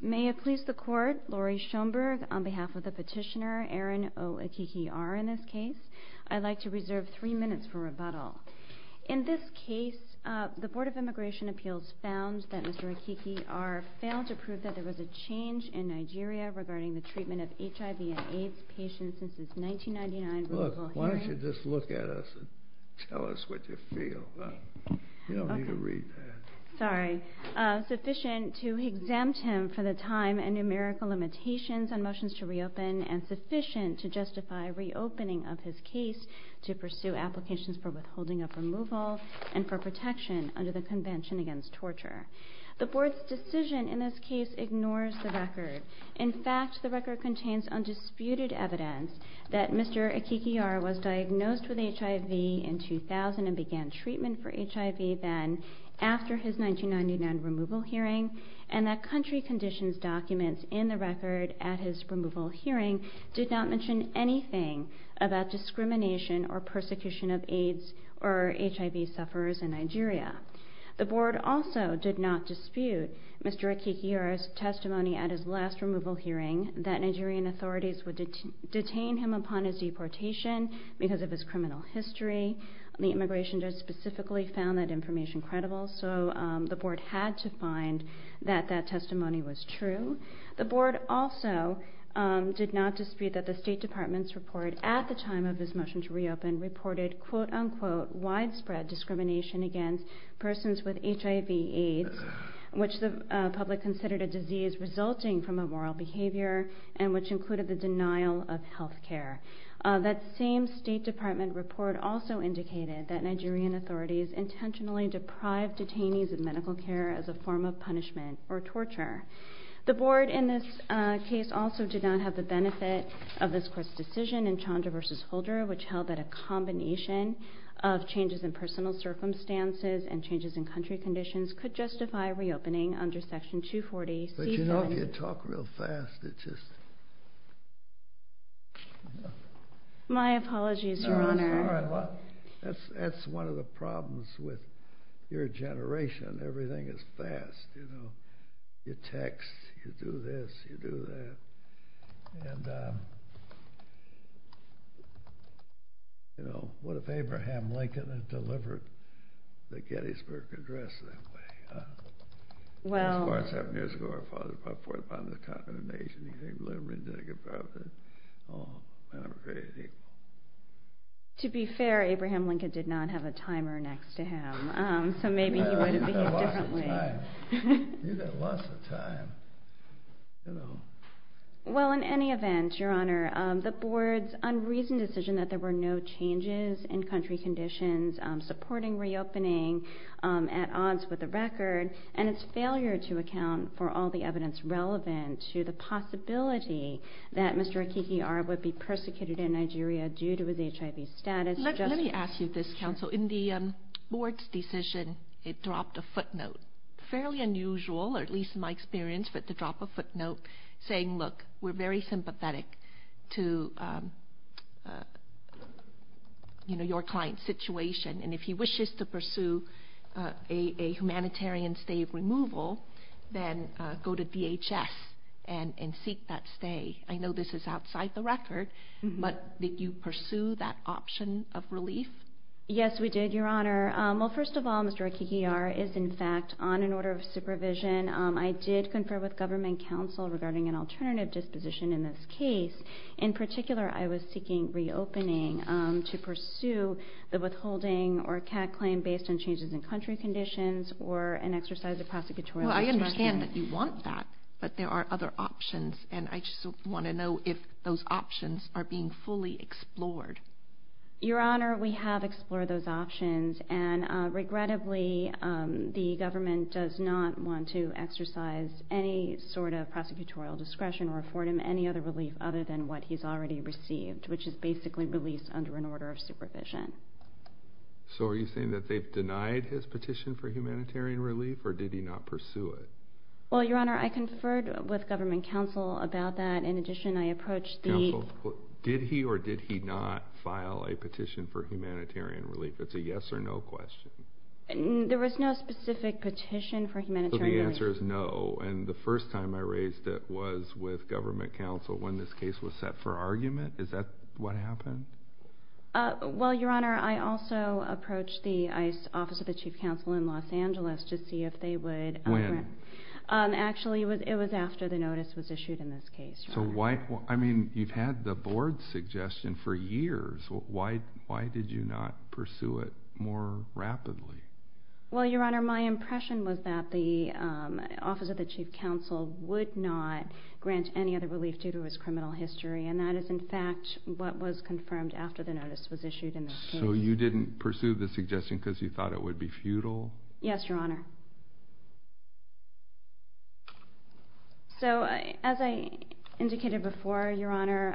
May it please the Court, Laurie Schoenberg, on behalf of the petitioner, Aaron O. Ekeke-R, in this case. I'd like to reserve three minutes for rebuttal. In this case, the Board of Immigration Appeals found that Mr. Ekeke-R failed to prove that there was a change in Nigeria regarding the treatment of HIV and AIDS patients since his 1999 rebuttal hearing. Look, why don't you just look at us and tell us what you feel? You don't need to read that. Sorry. Sufficient to exempt him from the time and numerical limitations on motions to reopen and sufficient to justify reopening of his case to pursue applications for withholding of removal and for protection under the Convention Against Torture. The Board's decision in this case ignores the record. In fact, the record contains undisputed evidence that Mr. Ekeke-R was diagnosed with HIV in 2000 and began treatment for HIV then after his 1999 removal hearing, and that country conditions documents in the record at his removal hearing did not mention anything about discrimination or persecution of AIDS or HIV sufferers in Nigeria. The Board also did not dispute Mr. Ekeke-R's testimony at his last removal hearing that Nigerian authorities would detain him upon his deportation because of his criminal history. The immigration judge specifically found that information credible, so the Board had to find that that testimony was true. The Board also did not dispute that the State Department's report at the time of his motion to reopen reported, quote-unquote, widespread discrimination against persons with HIV, AIDS, which the public considered a disease resulting from immoral behavior and which included the State Department report also indicated that Nigerian authorities intentionally deprived detainees of medical care as a form of punishment or torture. The Board in this case also did not have the benefit of this Court's decision in Chandra v. Holder, which held that a combination of changes in personal circumstances and changes in country conditions could justify reopening under Section 240C- But you know, if you talk real fast, it's just... My apologies, Your Honor. That's one of the problems with your generation. Everything is fast, you know. You text, you do this, you do that. And, you know, what if Abraham Lincoln had delivered the Gettysburg Address that way? Well... To be fair, Abraham Lincoln did not have a timer next to him, so maybe he would have behaved differently. You've got lots of time. Well, in any event, Your Honor, the Board's unreasoned decision that there were no changes in country conditions supporting reopening at odds with the record and its failure to provide all the evidence relevant to the possibility that Mr. Akiki Ara would be persecuted in Nigeria due to his HIV status... Let me ask you this, Counsel. In the Board's decision, it dropped a footnote. Fairly unusual, or at least in my experience, for it to drop a footnote saying, look, we're very sympathetic to, you know, your client's situation, and if he wishes to pursue a humanitarian stay of removal, then go to DHS and seek that stay. I know this is outside the record, but did you pursue that option of relief? Yes, we did, Your Honor. Well, first of all, Mr. Akiki Ara is, in fact, on an order of supervision. I did confer with government counsel regarding an alternative disposition in this case. In particular, I was seeking reopening to pursue the withholding or CAD claim based on changes in country conditions or an exercise of prosecutorial discretion. Well, I understand that you want that, but there are other options, and I just want to know if those options are being fully explored. Your Honor, we have explored those options, and regrettably, the government does not want to exercise any sort of prosecutorial discretion or afford him any other relief other than what he's already received, which is basically release under an order of supervision. So are you saying that they've denied his petition for humanitarian relief, or did he not pursue it? Well, Your Honor, I conferred with government counsel about that. In addition, I approached the... Counsel, did he or did he not file a petition for humanitarian relief? It's a yes or no question. There was no specific petition for humanitarian relief. So the answer is no, and the first time I raised it was with government counsel when this case was set for argument? Is that what happened? Well, Your Honor, I also approached the ICE, Office of the Chief Counsel, in Los Angeles to see if they would... When? Actually, it was after the notice was issued in this case. So why... I mean, you've had the board's suggestion for years. Why did you not pursue it more rapidly? Well, Your Honor, my impression was that the Office of the Chief Counsel would not grant any other relief due to his criminal history, and that is in fact what was confirmed after the notice was issued in this case. So you didn't pursue the suggestion because you thought it would be futile? Yes, Your Honor. So as I indicated before, Your Honor,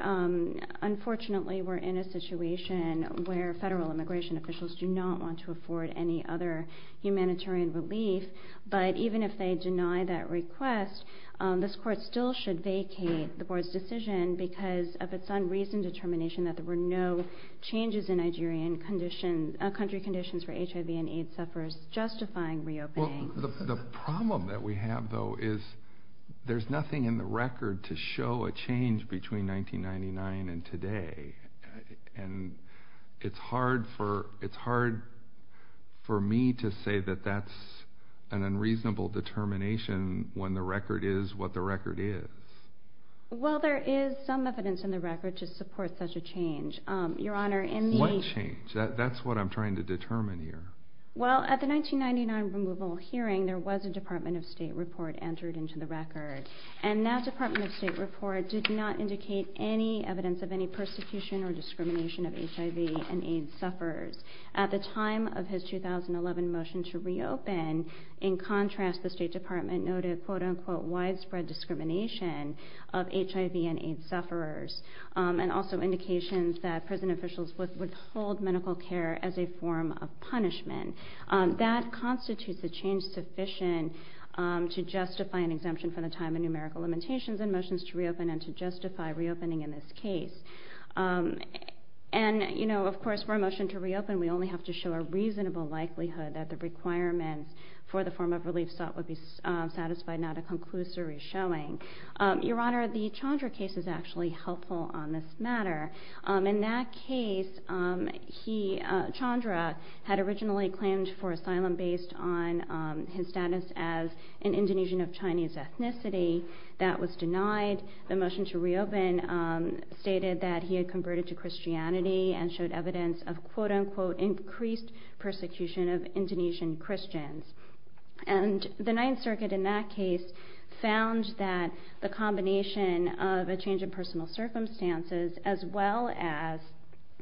unfortunately we're in a situation where federal immigration officials do not want to afford any other humanitarian relief, but even if they deny that request, this court still should vacate the board's decision because of its unreasoned determination that there were no changes in country conditions for HIV and AIDS sufferers justifying reopening. The problem that we have, though, is there's nothing in the record to show a change between 1999 and today, and it's hard for me to say that that's an unreasonable determination when the record is what the record is. Well, there is some evidence in the record to support such a change. What change? That's what I'm trying to determine here. Well, at the 1999 removal hearing, there was a Department of State report entered into the record, and that Department of State report did not indicate any evidence of any persecution or discrimination of HIV and AIDS sufferers. At the time of his 2011 motion to reopen, in contrast, the State Department noted quote-unquote widespread discrimination of HIV and AIDS sufferers, and also indications that prison officials withhold medical care as a form of punishment. That constitutes a change sufficient to justify an exemption from the time of numerical limitations and motions to reopen and to justify reopening in this case. And, you know, of course, for a motion to reopen, we only have to show a reasonable likelihood that the requirements for the form of relief sought would be satisfied, not a conclusory showing. Your Honor, the Chandra case is actually helpful on this matter. In that case, Chandra had originally claimed for asylum based on his status as an Indonesian of Chinese ethnicity. That was denied. The motion to reopen stated that he had converted to Christianity and showed evidence of quote-unquote increased persecution of Indonesian Christians. And the Ninth Circuit in that case found that the combination of a change in personal circumstances as well as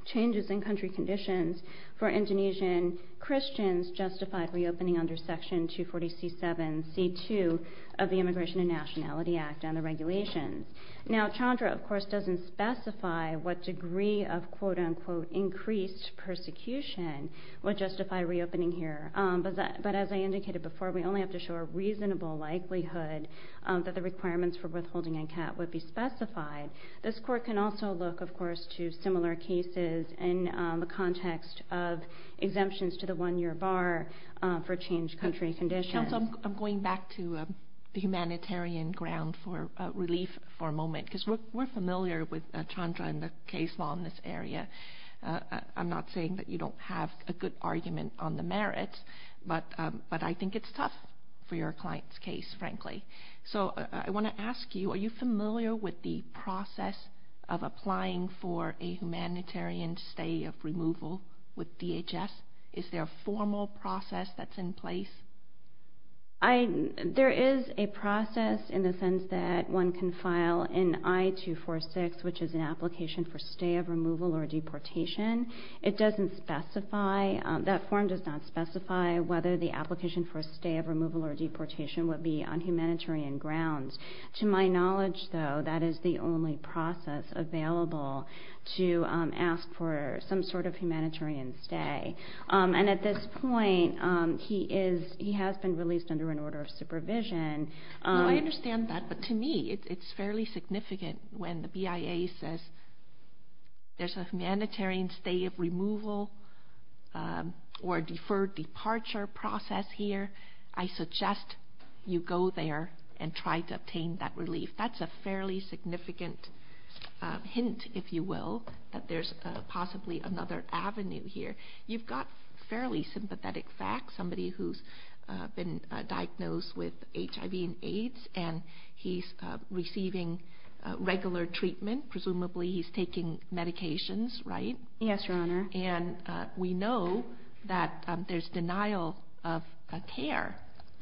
changes in country conditions for Indonesian Christians justified reopening under Section 240C7C2 of the Immigration and Nationality Act and the regulations. Now, Chandra, of course, doesn't specify what degree of quote-unquote increased persecution would justify reopening here, but as I indicated before, we only have to show a reasonable likelihood that the requirements for withholding NCAT would be specified. This Court can also look, of course, to similar cases in the context of exemptions to the one-year bar for changed country conditions. Counsel, I'm going back to the humanitarian ground for relief for a moment because we're familiar with Chandra and the case law in this area. I'm not saying that you don't have a good argument on the merits, but I think it's tough for your client's case, frankly. So I want to ask you, are you familiar with the process of applying for a humanitarian stay of removal with DHS? Is there a formal process that's in place? There is a process in the sense that one can file an I-246, which is an application for stay of removal or deportation. It doesn't specify, that form does not specify whether the application for a stay of removal or deportation would be on humanitarian grounds. To my knowledge, though, that is the only process available to ask for some sort of humanitarian stay. And at this point, he has been released under an order of supervision. I understand that, but to me, it's fairly significant when the BIA says there's a humanitarian stay of removal or deferred departure process here, I suggest you go there and try to obtain that relief. That's a fairly significant hint, if you will, that there's possibly another avenue here. You've got fairly sympathetic facts, somebody who's been diagnosed with HIV and AIDS, and he's receiving regular treatment. Presumably he's taking medications, right? Yes, Your Honor. And we know that there's denial of care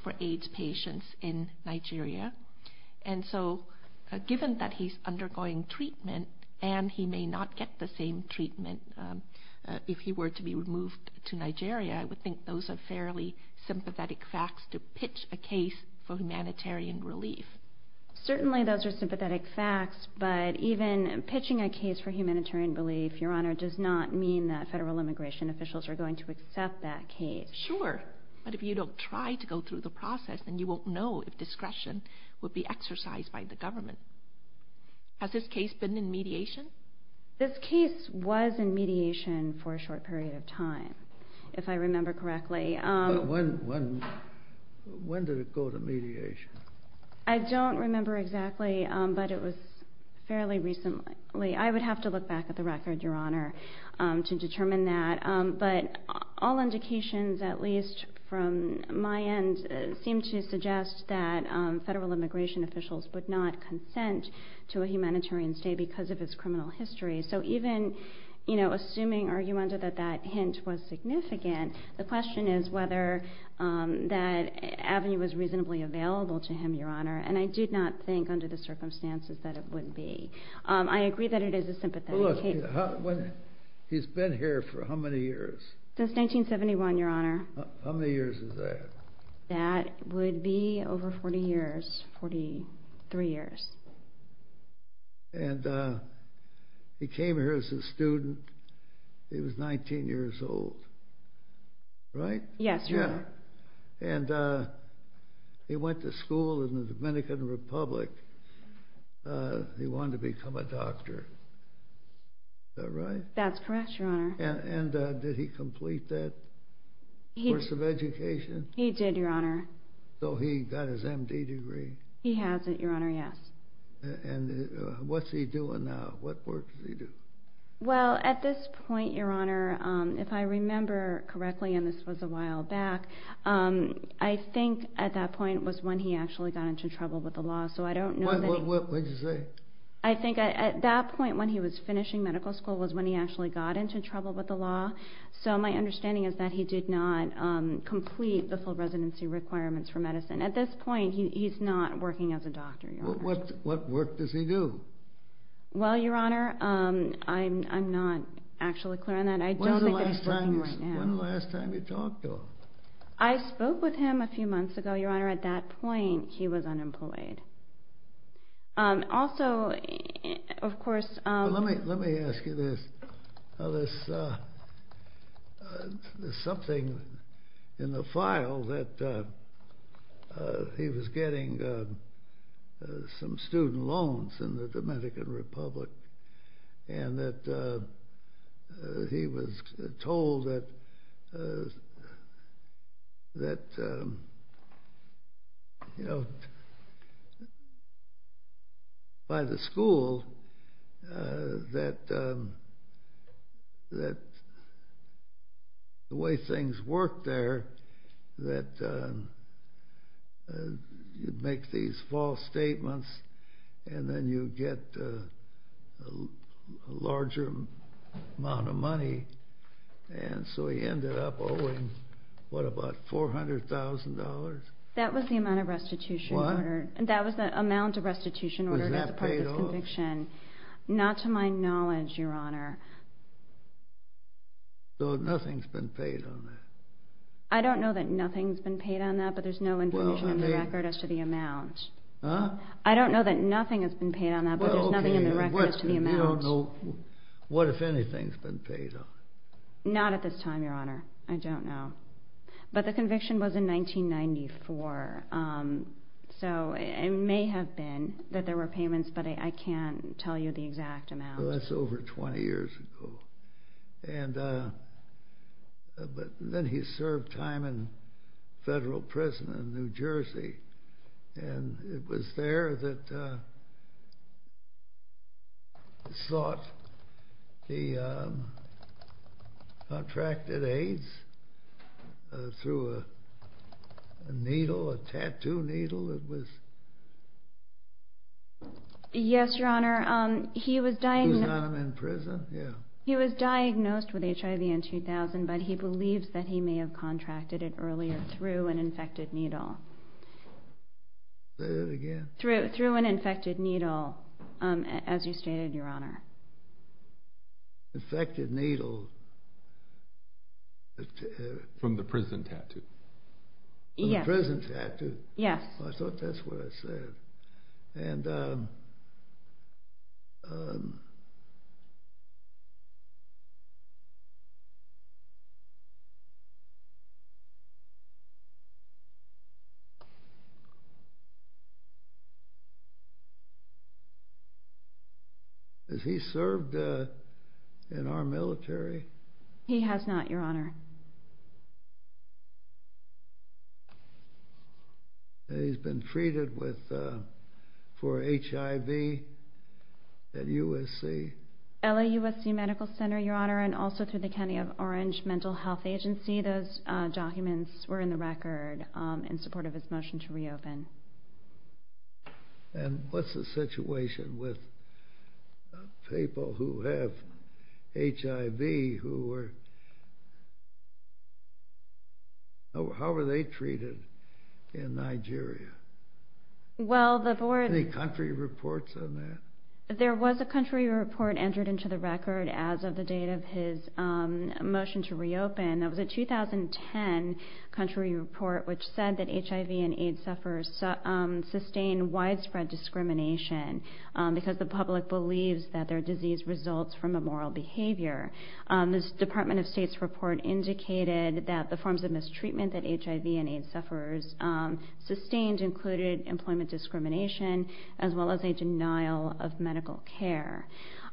for AIDS patients in Nigeria. And so given that he's undergoing treatment and he may not get the same treatment if he were to be removed to Nigeria, I would think those are fairly sympathetic facts to pitch a case for humanitarian relief. Certainly those are sympathetic facts, but even pitching a case for humanitarian relief, Your Honor, does not mean that federal immigration officials are going to accept that case. Sure, but if you don't try to go through the process, then you won't know if discretion would be exercised by the government. Has this case been in mediation? This case was in mediation for a short period of time, if I remember correctly. When did it go to mediation? I don't remember exactly, but it was fairly recently. I would have to look back at the record, Your Honor, to determine that. But all indications, at least from my end, seem to suggest that federal immigration officials would not consent to a humanitarian stay because of his criminal history. So even, you know, assuming argumentative that that hint was significant, the question is whether that avenue was reasonably available to him, Your Honor, and I did not think under the circumstances that it would be. I agree that it is a sympathetic case. Well, look, he's been here for how many years? Since 1971, Your Honor. How many years is that? That would be over 40 years, 43 years. And he came here as a student. He was 19 years old, right? Yes, Your Honor. And he went to school in the Dominican Republic. He wanted to become a doctor. Is that right? That's correct, Your Honor. And did he complete that course of education? He did, Your Honor. So he got his M.D. degree? He has it, Your Honor, yes. And what's he doing now? What work does he do? Well, at this point, Your Honor, if I remember correctly, and this was a while back, I think at that point was when he actually got into trouble with the law, so I don't know that he What did you say? I think at that point when he was finishing medical school was when he actually got into trouble with the law, so my understanding is that he did not complete the full residency requirements for medicine. At this point, he's not working as a doctor, Your Honor. What work does he do? Well, Your Honor, I'm not actually clear on that. I don't think that he's working right now. When was the last time you talked to him? I spoke with him a few months ago, Your Honor. At that point, he was unemployed. Also, of course, Let me ask you this. Now, there's something in the file that he was getting some student loans in the Dominican Republic and that he was told that, you know, by the school that the way things worked there that you'd make these false statements and then you'd get a larger amount of money, and so he ended up owing, what, about $400,000? That was the amount of restitution ordered. What? That was the amount of restitution ordered as part of his conviction. Was that paid off? Not to my knowledge, Your Honor. So nothing's been paid on that? I don't know that nothing's been paid on that, but there's no information in the record as to the amount. Huh? I don't know that nothing has been paid on that, but there's nothing in the record as to the amount. Well, okay. You don't know what, if anything, has been paid on it? Not at this time, Your Honor. I don't know. But the conviction was in 1994, so it may have been that there were payments, but I can't tell you the exact amount. Well, that's over 20 years ago. And then he served time in federal prison in New Jersey, and it was there that he sought the contracted AIDS through a needle, a tattoo needle that was... Yes, Your Honor. He was diagnosed... He was in prison, yeah. He was diagnosed with HIV in 2000, but he believes that he may have contracted it earlier through an infected needle. Say that again? Through an infected needle, as you stated, Your Honor. Infected needle. From the prison tattoo. Yes. From the prison tattoo. Yes. I thought that's what I said. Has he served in our military? He has not, Your Honor. He's been treated for HIV at USC. LAUSC Medical Center, Your Honor, and also through the County of Orange Mental Health Agency. Those documents were in the report. In support of his motion to reopen. And what's the situation with people who have HIV who were... How were they treated in Nigeria? Well, the board... Any country reports on that? There was a country report entered into the record as of the date of his motion to reopen. That was a 2010 country report, which said that HIV and AIDS sufferers sustain widespread discrimination because the public believes that their disease results from immoral behavior. This Department of State's report indicated that the forms of mistreatment that HIV and AIDS sufferers sustained included employment discrimination as well as a denial of medical care.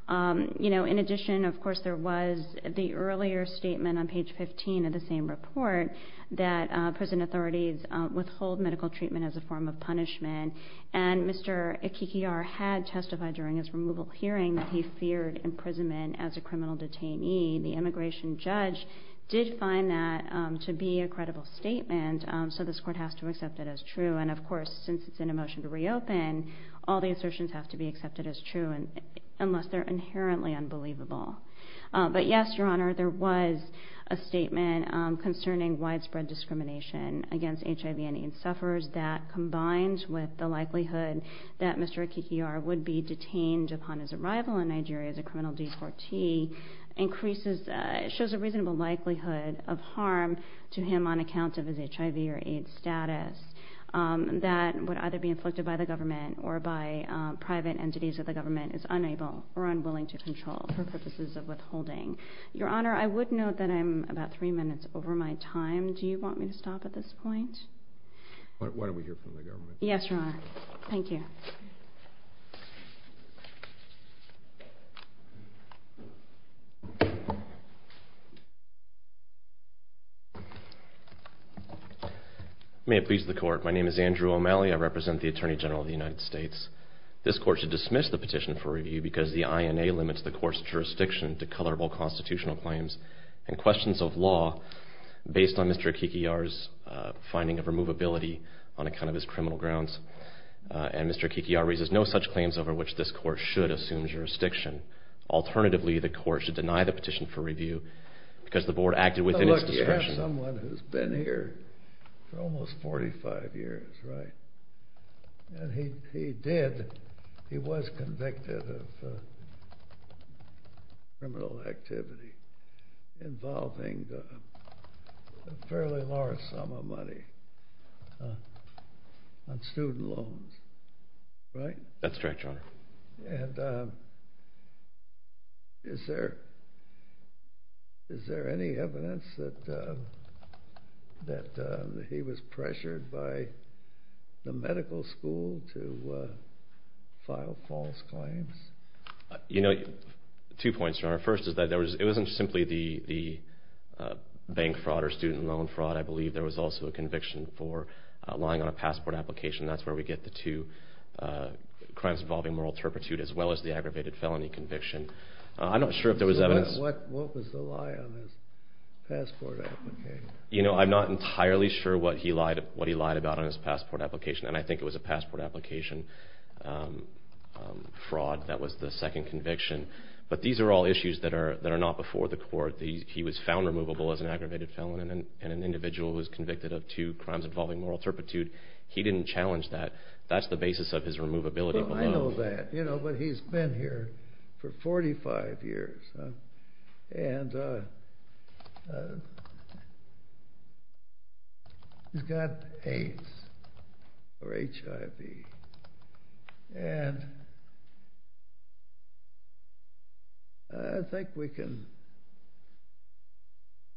In addition, of course, there was the earlier statement on page 15 of the same report that prison authorities withhold medical treatment as a form of punishment. And Mr. Akikiar had testified during his removal hearing that he feared imprisonment as a criminal detainee. The immigration judge did find that to be a credible statement, so this Court has to accept it as true. And, of course, since it's in a motion to reopen, all the assertions have to be accepted as true unless they're inherently unbelievable. But, yes, Your Honor, there was a statement concerning widespread discrimination against HIV and AIDS sufferers that, combined with the likelihood that Mr. Akikiar would be detained upon his arrival in Nigeria as a criminal deportee, shows a reasonable likelihood of harm to him on account of his HIV or AIDS status that would either be inflicted by the government or by private entities that the government is unable or unwilling to control for purposes of withholding. Your Honor, I would note that I'm about three minutes over my time. Do you want me to stop at this point? Why don't we hear from the government? Yes, Your Honor. Thank you. May it please the Court. My name is Andrew O'Malley. I represent the Attorney General of the United States. This Court should dismiss the petition for review because the INA limits the Court's jurisdiction to colorable constitutional claims and questions of law based on Mr. Akikiar's finding of removability on account of his criminal grounds. And Mr. Akikiar raises no such claims over which this Court should assume jurisdiction. Alternatively, the Court should deny the petition for review because the Board acted within its discretion. He's someone who's been here for almost 45 years, right? And he did, he was convicted of criminal activity involving a fairly large sum of money on student loans, right? That's correct, Your Honor. And is there any evidence that he was pressured by the medical school to file false claims? You know, two points, Your Honor. First is that it wasn't simply the bank fraud or student loan fraud. I believe there was also a conviction for lying on a passport application. That's where we get the two crimes involving moral turpitude as well as the aggravated felony conviction. I'm not sure if there was evidence. What was the lie on his passport application? You know, I'm not entirely sure what he lied about on his passport application, and I think it was a passport application fraud that was the second conviction. But these are all issues that are not before the Court. He was found removable as an aggravated felon and an individual who was convicted of two crimes involving moral turpitude. He didn't challenge that. That's the basis of his removability. Well, I know that. You know, but he's been here for 45 years, and he's got AIDS or HIV, and I think we can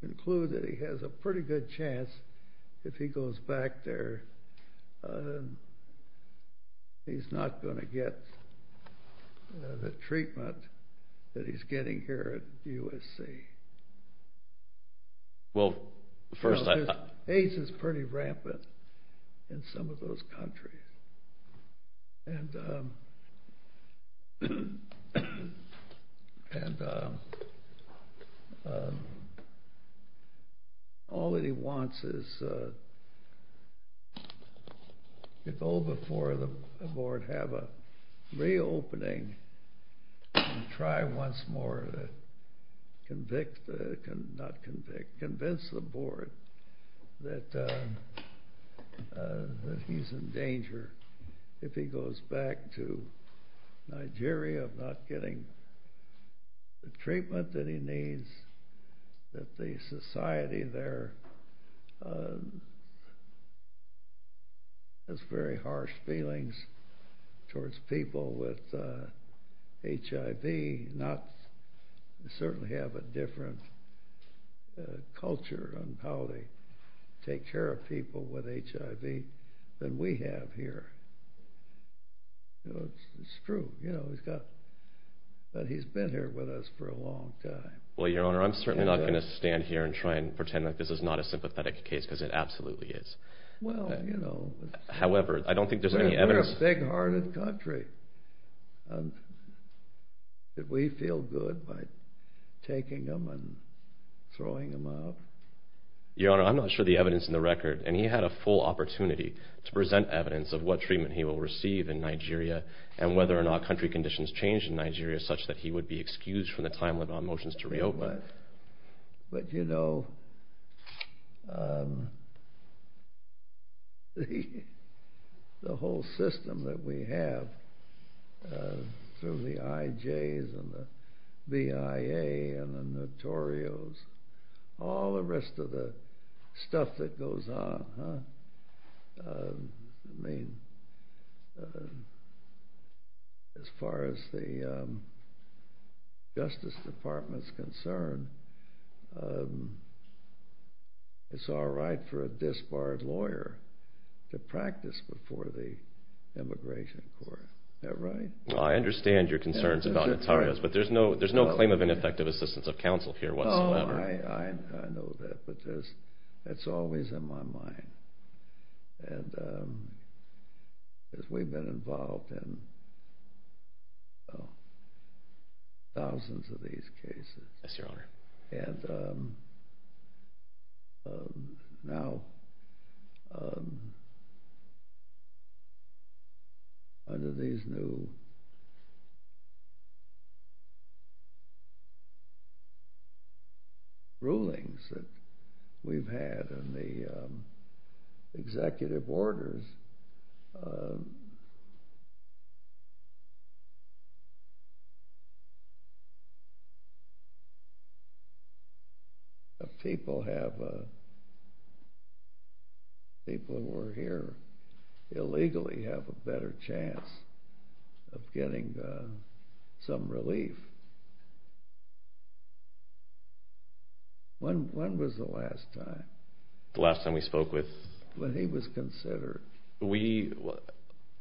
conclude that he has a pretty good chance that if he goes back there, he's not going to get the treatment that he's getting here at USC. AIDS is pretty rampant in some of those countries, and all that he wants is to go before the Board, have a reopening, and try once more to convince the Board that he's in danger if he goes back to Nigeria of not getting the treatment that he needs, that the society there has very harsh feelings towards people with HIV. They certainly have a different culture on how they take care of people with HIV than we have here. It's true that he's been here with us for a long time. Well, Your Honor, I'm certainly not going to stand here and try and pretend like this is not a sympathetic case, because it absolutely is. Well, you know. However, I don't think there's any evidence. We're a big-hearted country. Did we feel good by taking him and throwing him out? Your Honor, I'm not sure of the evidence in the record, and he had a full opportunity to present evidence of what treatment he will receive in Nigeria and whether or not country conditions change in Nigeria such that he would be excused from the time-limited motions to reopen. But, you know, the whole system that we have through the IJs and the BIA and the Notorios, all the rest of the stuff that goes on. I mean, as far as the Justice Department is concerned, it's all right for a disbarred lawyer to practice before the Immigration Court. Is that right? Well, I understand your concerns about Notarios, but there's no claim of ineffective assistance of counsel here whatsoever. I know that, but that's always in my mind. And we've been involved in thousands of these cases. Yes, Your Honor. And now, under these new rulings that we've had and the executive orders, people who are here illegally have a better chance of getting some relief. When was the last time? The last time we spoke with? When he was considered.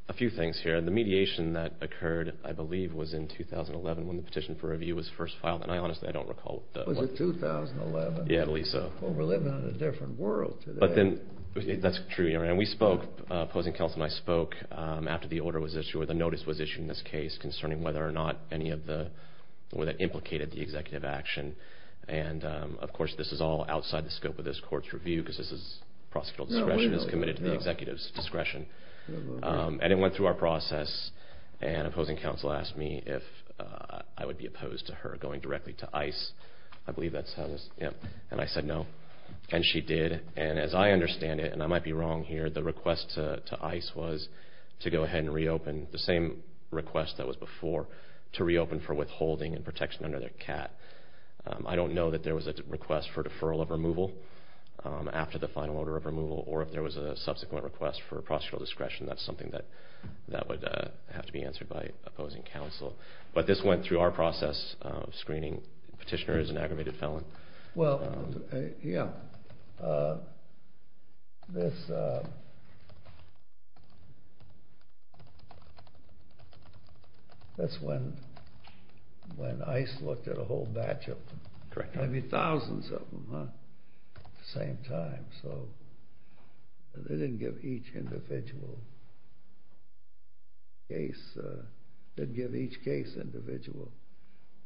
A few things here. The mediation that occurred, I believe, was in 2011 when the petition for review was first filed. And I honestly don't recall what that was. Was it 2011? Yeah, at least so. Well, we're living in a different world today. That's true, Your Honor. And we spoke, opposing counsel and I spoke, after the order was issued or the notice was issued in this case concerning whether or not any of the, whether it implicated the executive action. And, of course, this is all outside the scope of this court's review because this is prosecutorial discretion. It's committed to the executive's discretion. And it went through our process. And opposing counsel asked me if I would be opposed to her going directly to ICE. I believe that's how it was. And I said no. And she did. And as I understand it, and I might be wrong here, the request to ICE was to go ahead and reopen the same request that was before, to reopen for withholding and protection under their CAT. I don't know that there was a request for deferral of removal after the final order of removal or if there was a subsequent request for prosecutorial discretion. That's something that would have to be answered by opposing counsel. But this went through our process of screening. Petitioner is an aggravated felon. Well, yeah, that's when ICE looked at a whole batch of them, maybe thousands of them at the same time. So they didn't give each individual case individual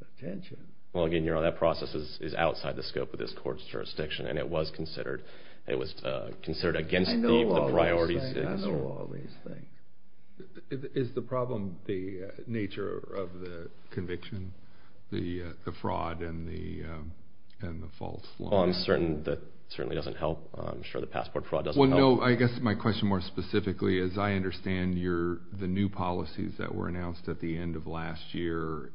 attention. Well, again, that process is outside the scope of this court's jurisdiction, and it was considered against the priorities. I know all these things. Is the problem the nature of the conviction, the fraud and the false law? Well, I'm certain that certainly doesn't help. I'm sure the passport fraud doesn't help. Well, no, I guess my question more specifically is, I understand the new policies that were announced at the end of last year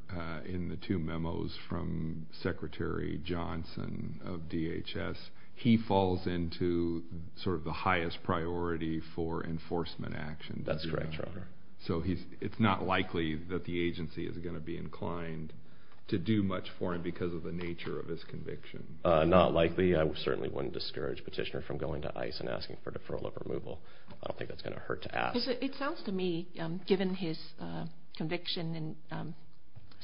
in the two memos from Secretary Johnson of DHS. He falls into sort of the highest priority for enforcement action. That's correct, Your Honor. So it's not likely that the agency is going to be inclined to do much for him because of the nature of his conviction. Not likely. I certainly wouldn't discourage Petitioner from going to ICE and asking for deferral of removal. I don't think that's going to hurt to ask. It sounds to me, given his conviction and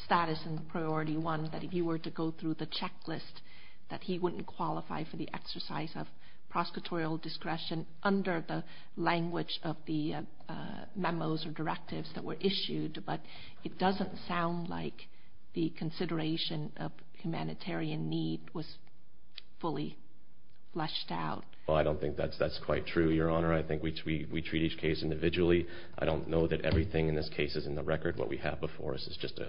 status in priority one, that if you were to go through the checklist, that he wouldn't qualify for the exercise of prosecutorial discretion under the language of the memos or directives that were issued. But it doesn't sound like the consideration of humanitarian need was fully fleshed out. Well, I don't think that's quite true, Your Honor. I think we treat each case individually. I don't know that everything in this case is in the record. What we have before us is just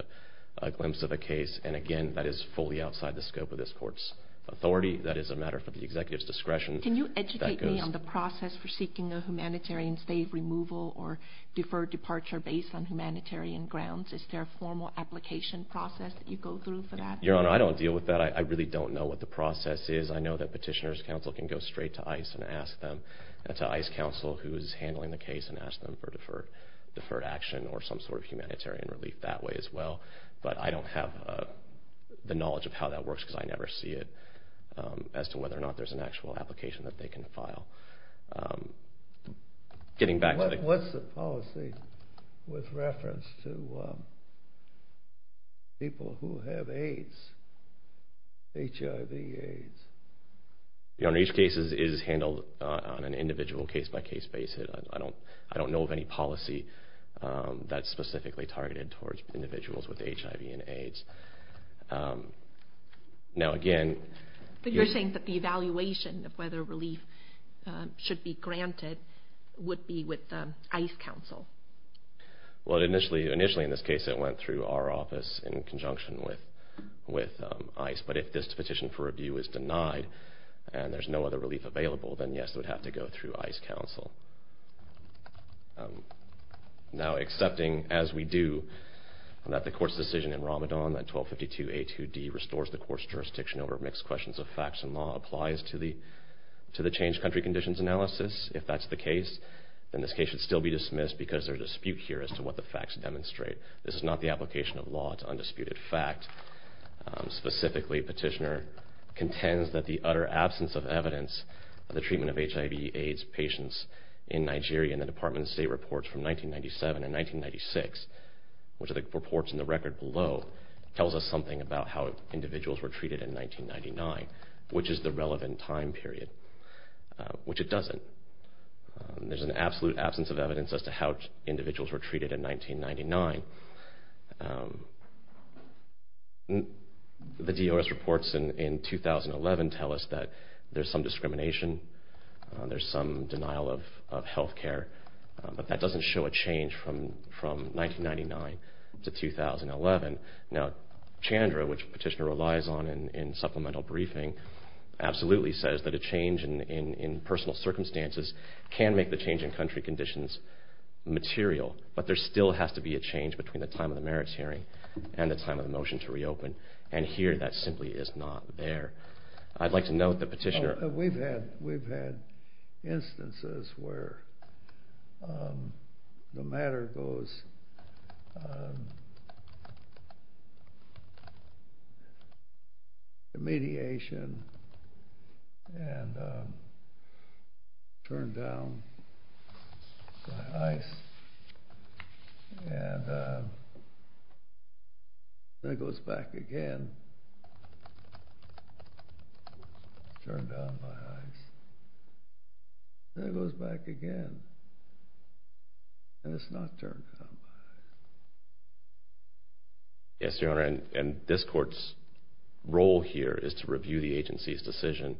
a glimpse of a case. And, again, that is fully outside the scope of this court's authority. That is a matter for the executive's discretion. Can you educate me on the process for seeking a humanitarian stay, removal, or deferred departure based on humanitarian grounds? Is there a formal application process that you go through for that? Your Honor, I don't deal with that. I really don't know what the process is. I know that petitioners' counsel can go straight to ICE and ask them, and to ICE counsel who is handling the case and ask them for deferred action or some sort of humanitarian relief that way as well. But I don't have the knowledge of how that works because I never see it, as to whether or not there's an actual application that they can file. Getting back to the question. What's the policy with reference to people who have AIDS, HIV, AIDS? Your Honor, each case is handled on an individual case-by-case basis. I don't know of any policy that's specifically targeted towards individuals with HIV and AIDS. Now, again- But you're saying that the evaluation of whether relief should be granted would be with ICE counsel. Well, initially, in this case, it went through our office in conjunction with ICE. But if this petition for review is denied and there's no other relief available, then, yes, it would have to go through ICE counsel. Now, accepting, as we do, that the court's decision in Ramadan, that 1252A2D restores the court's jurisdiction over mixed questions of facts and law, applies to the changed country conditions analysis. If that's the case, then this case should still be dismissed because there's a dispute here as to what the facts demonstrate. This is not the application of law. It's undisputed fact. Specifically, petitioner contends that the utter absence of evidence of the treatment of HIV, AIDS patients in Nigeria in the Department of State reports from 1997 and 1996, which are the reports in the record below, tells us something about how individuals were treated in 1999, which is the relevant time period, which it doesn't. There's an absolute absence of evidence as to how individuals were treated in 1999. The DOS reports in 2011 tell us that there's some discrimination, there's some denial of health care, but that doesn't show a change from 1999 to 2011. Now, Chandra, which petitioner relies on in supplemental briefing, absolutely says that a change in personal circumstances can make the change in country conditions material, but there still has to be a change between the time of the merits hearing and the time of the motion to reopen, and here that simply is not there. I'd like to note that petitioner... We've had instances where the matter goes... Radiation, and turned down by ice, and then it goes back again. Turned down by ice. Then it goes back again. And it's not turned down by ice. Yes, Your Honor, and this court's role here is to review the agency's decision.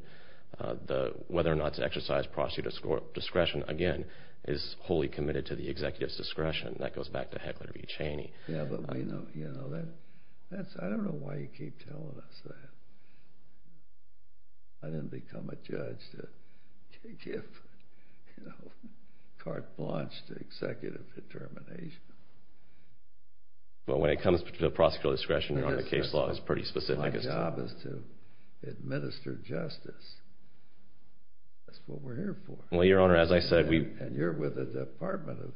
Whether or not to exercise prosecutor's discretion, again, is wholly committed to the executive's discretion. That goes back to Heckler v. Cheney. Yeah, but we know... I don't know why you keep telling us that. I didn't become a judge to give carte blanche to executive determination. Well, when it comes to the prosecutor's discretion, Your Honor, the case law is pretty specific. My job is to administer justice. That's what we're here for. Well, Your Honor, as I said, we... And you're with the Department of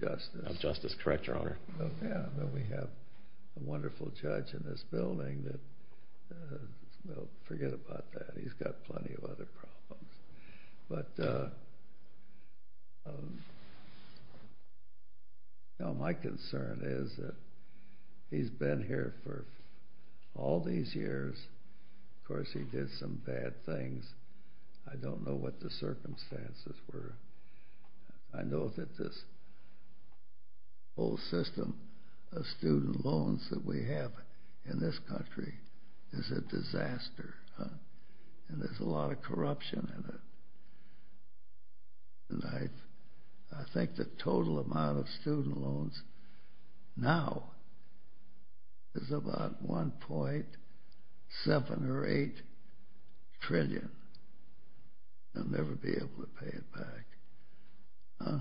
Justice. Of Justice, correct, Your Honor. Yeah, and we have a wonderful judge in this building that... Well, forget about that. He's got plenty of other problems. But my concern is that he's been here for all these years. Of course, he did some bad things. I don't know what the circumstances were. I know that this whole system of student loans that we have in this country is a disaster. And there's a lot of corruption in it. And I think the total amount of student loans now is about $1.7 or $1.8 trillion. They'll never be able to pay it back. Huh?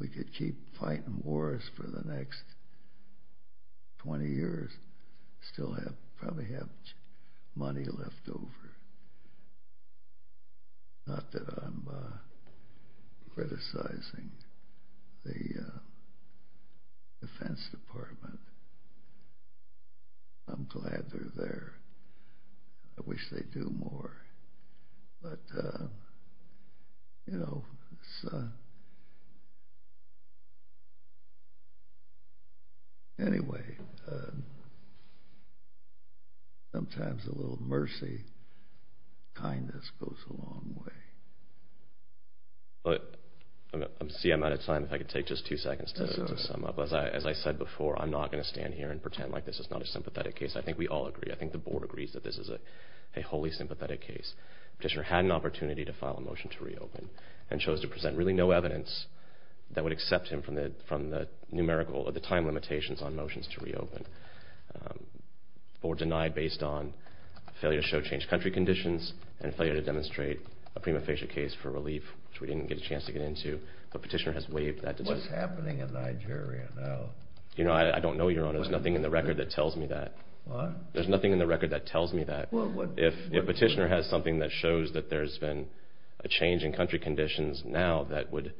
We could keep fighting wars for the next 20 years, still probably have money left over. Not that I'm criticizing the Defense Department. I'm glad they're there. I wish they'd do more. But, you know, anyway, sometimes a little mercy, kindness goes a long way. See, I'm out of time. If I could take just two seconds to sum up. As I said before, I'm not going to stand here and pretend like this is not a sympathetic case. I think we all agree. I think the Board agrees that this is a wholly sympathetic case. Petitioner had an opportunity to file a motion to reopen and chose to present really no evidence that would accept him from the numerical or the time limitations on motions to reopen. The Board denied based on failure to show changed country conditions and failure to demonstrate a prima facie case for relief, which we didn't get a chance to get into. But Petitioner has waived that decision. What's happening in Nigeria now? You know, I don't know, Your Honor. There's nothing in the record that tells me that. There's nothing in the record that tells me that. If Petitioner has something that shows that there's been a change in country conditions now that would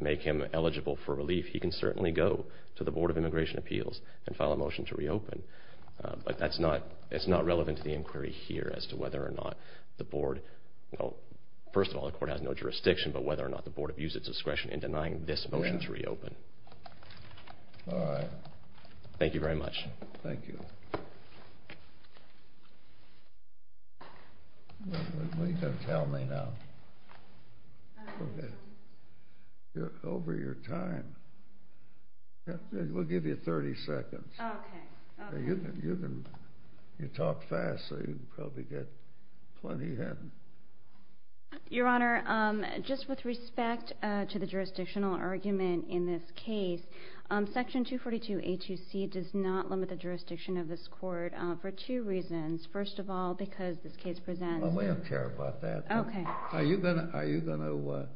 make him eligible for relief, he can certainly go to the Board of Immigration Appeals and file a motion to reopen. But that's not relevant to the inquiry here as to whether or not the Board, well, first of all, the Court has no jurisdiction, but whether or not the Board abused its discretion in denying this motion to reopen. All right. Thank you very much. Thank you. What are you going to tell me now? Okay. You're over your time. We'll give you 30 seconds. Okay. You talk fast so you can probably get plenty in. Your Honor, just with respect to the jurisdictional argument in this case, Section 242A2C does not limit the jurisdiction of this Court for two reasons. First of all, because this case presents We don't care about that. Are you going to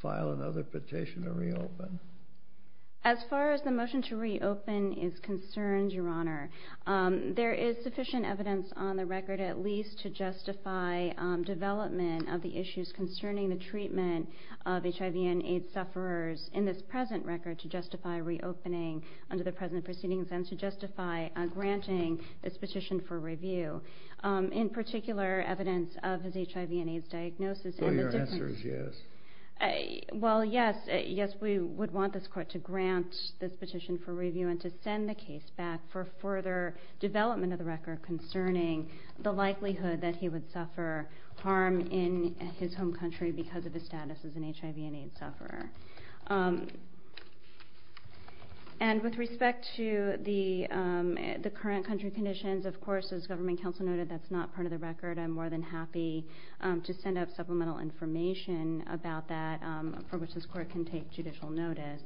file another petition to reopen? As far as the motion to reopen is concerned, Your Honor, there is sufficient evidence on the record at least to justify development of the issues concerning the treatment of HIV and AIDS sufferers in this present record to justify reopening under the present proceedings and to justify granting this petition for review. In particular, evidence of his HIV and AIDS diagnosis. So your answer is yes. Well, yes. Yes, we would want this Court to grant this petition for review and to send the case back for further development of the record concerning the likelihood that he would suffer harm in his home country because of his status as an HIV and AIDS sufferer. And with respect to the current country conditions, of course, as Government Counsel noted, that's not part of the record. I'm more than happy to send out supplemental information about that for which this Court can take judicial notice.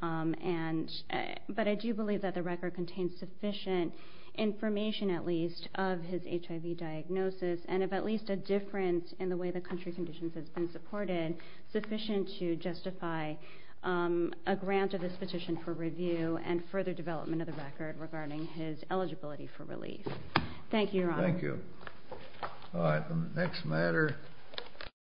But I do believe that the record contains sufficient information at least of his HIV diagnosis and of at least a difference in the way the country conditions have been supported sufficient to justify a grant of this petition for review and further development of the record regarding his eligibility for relief. Thank you, Your Honor. Thank you. All right, the next matter.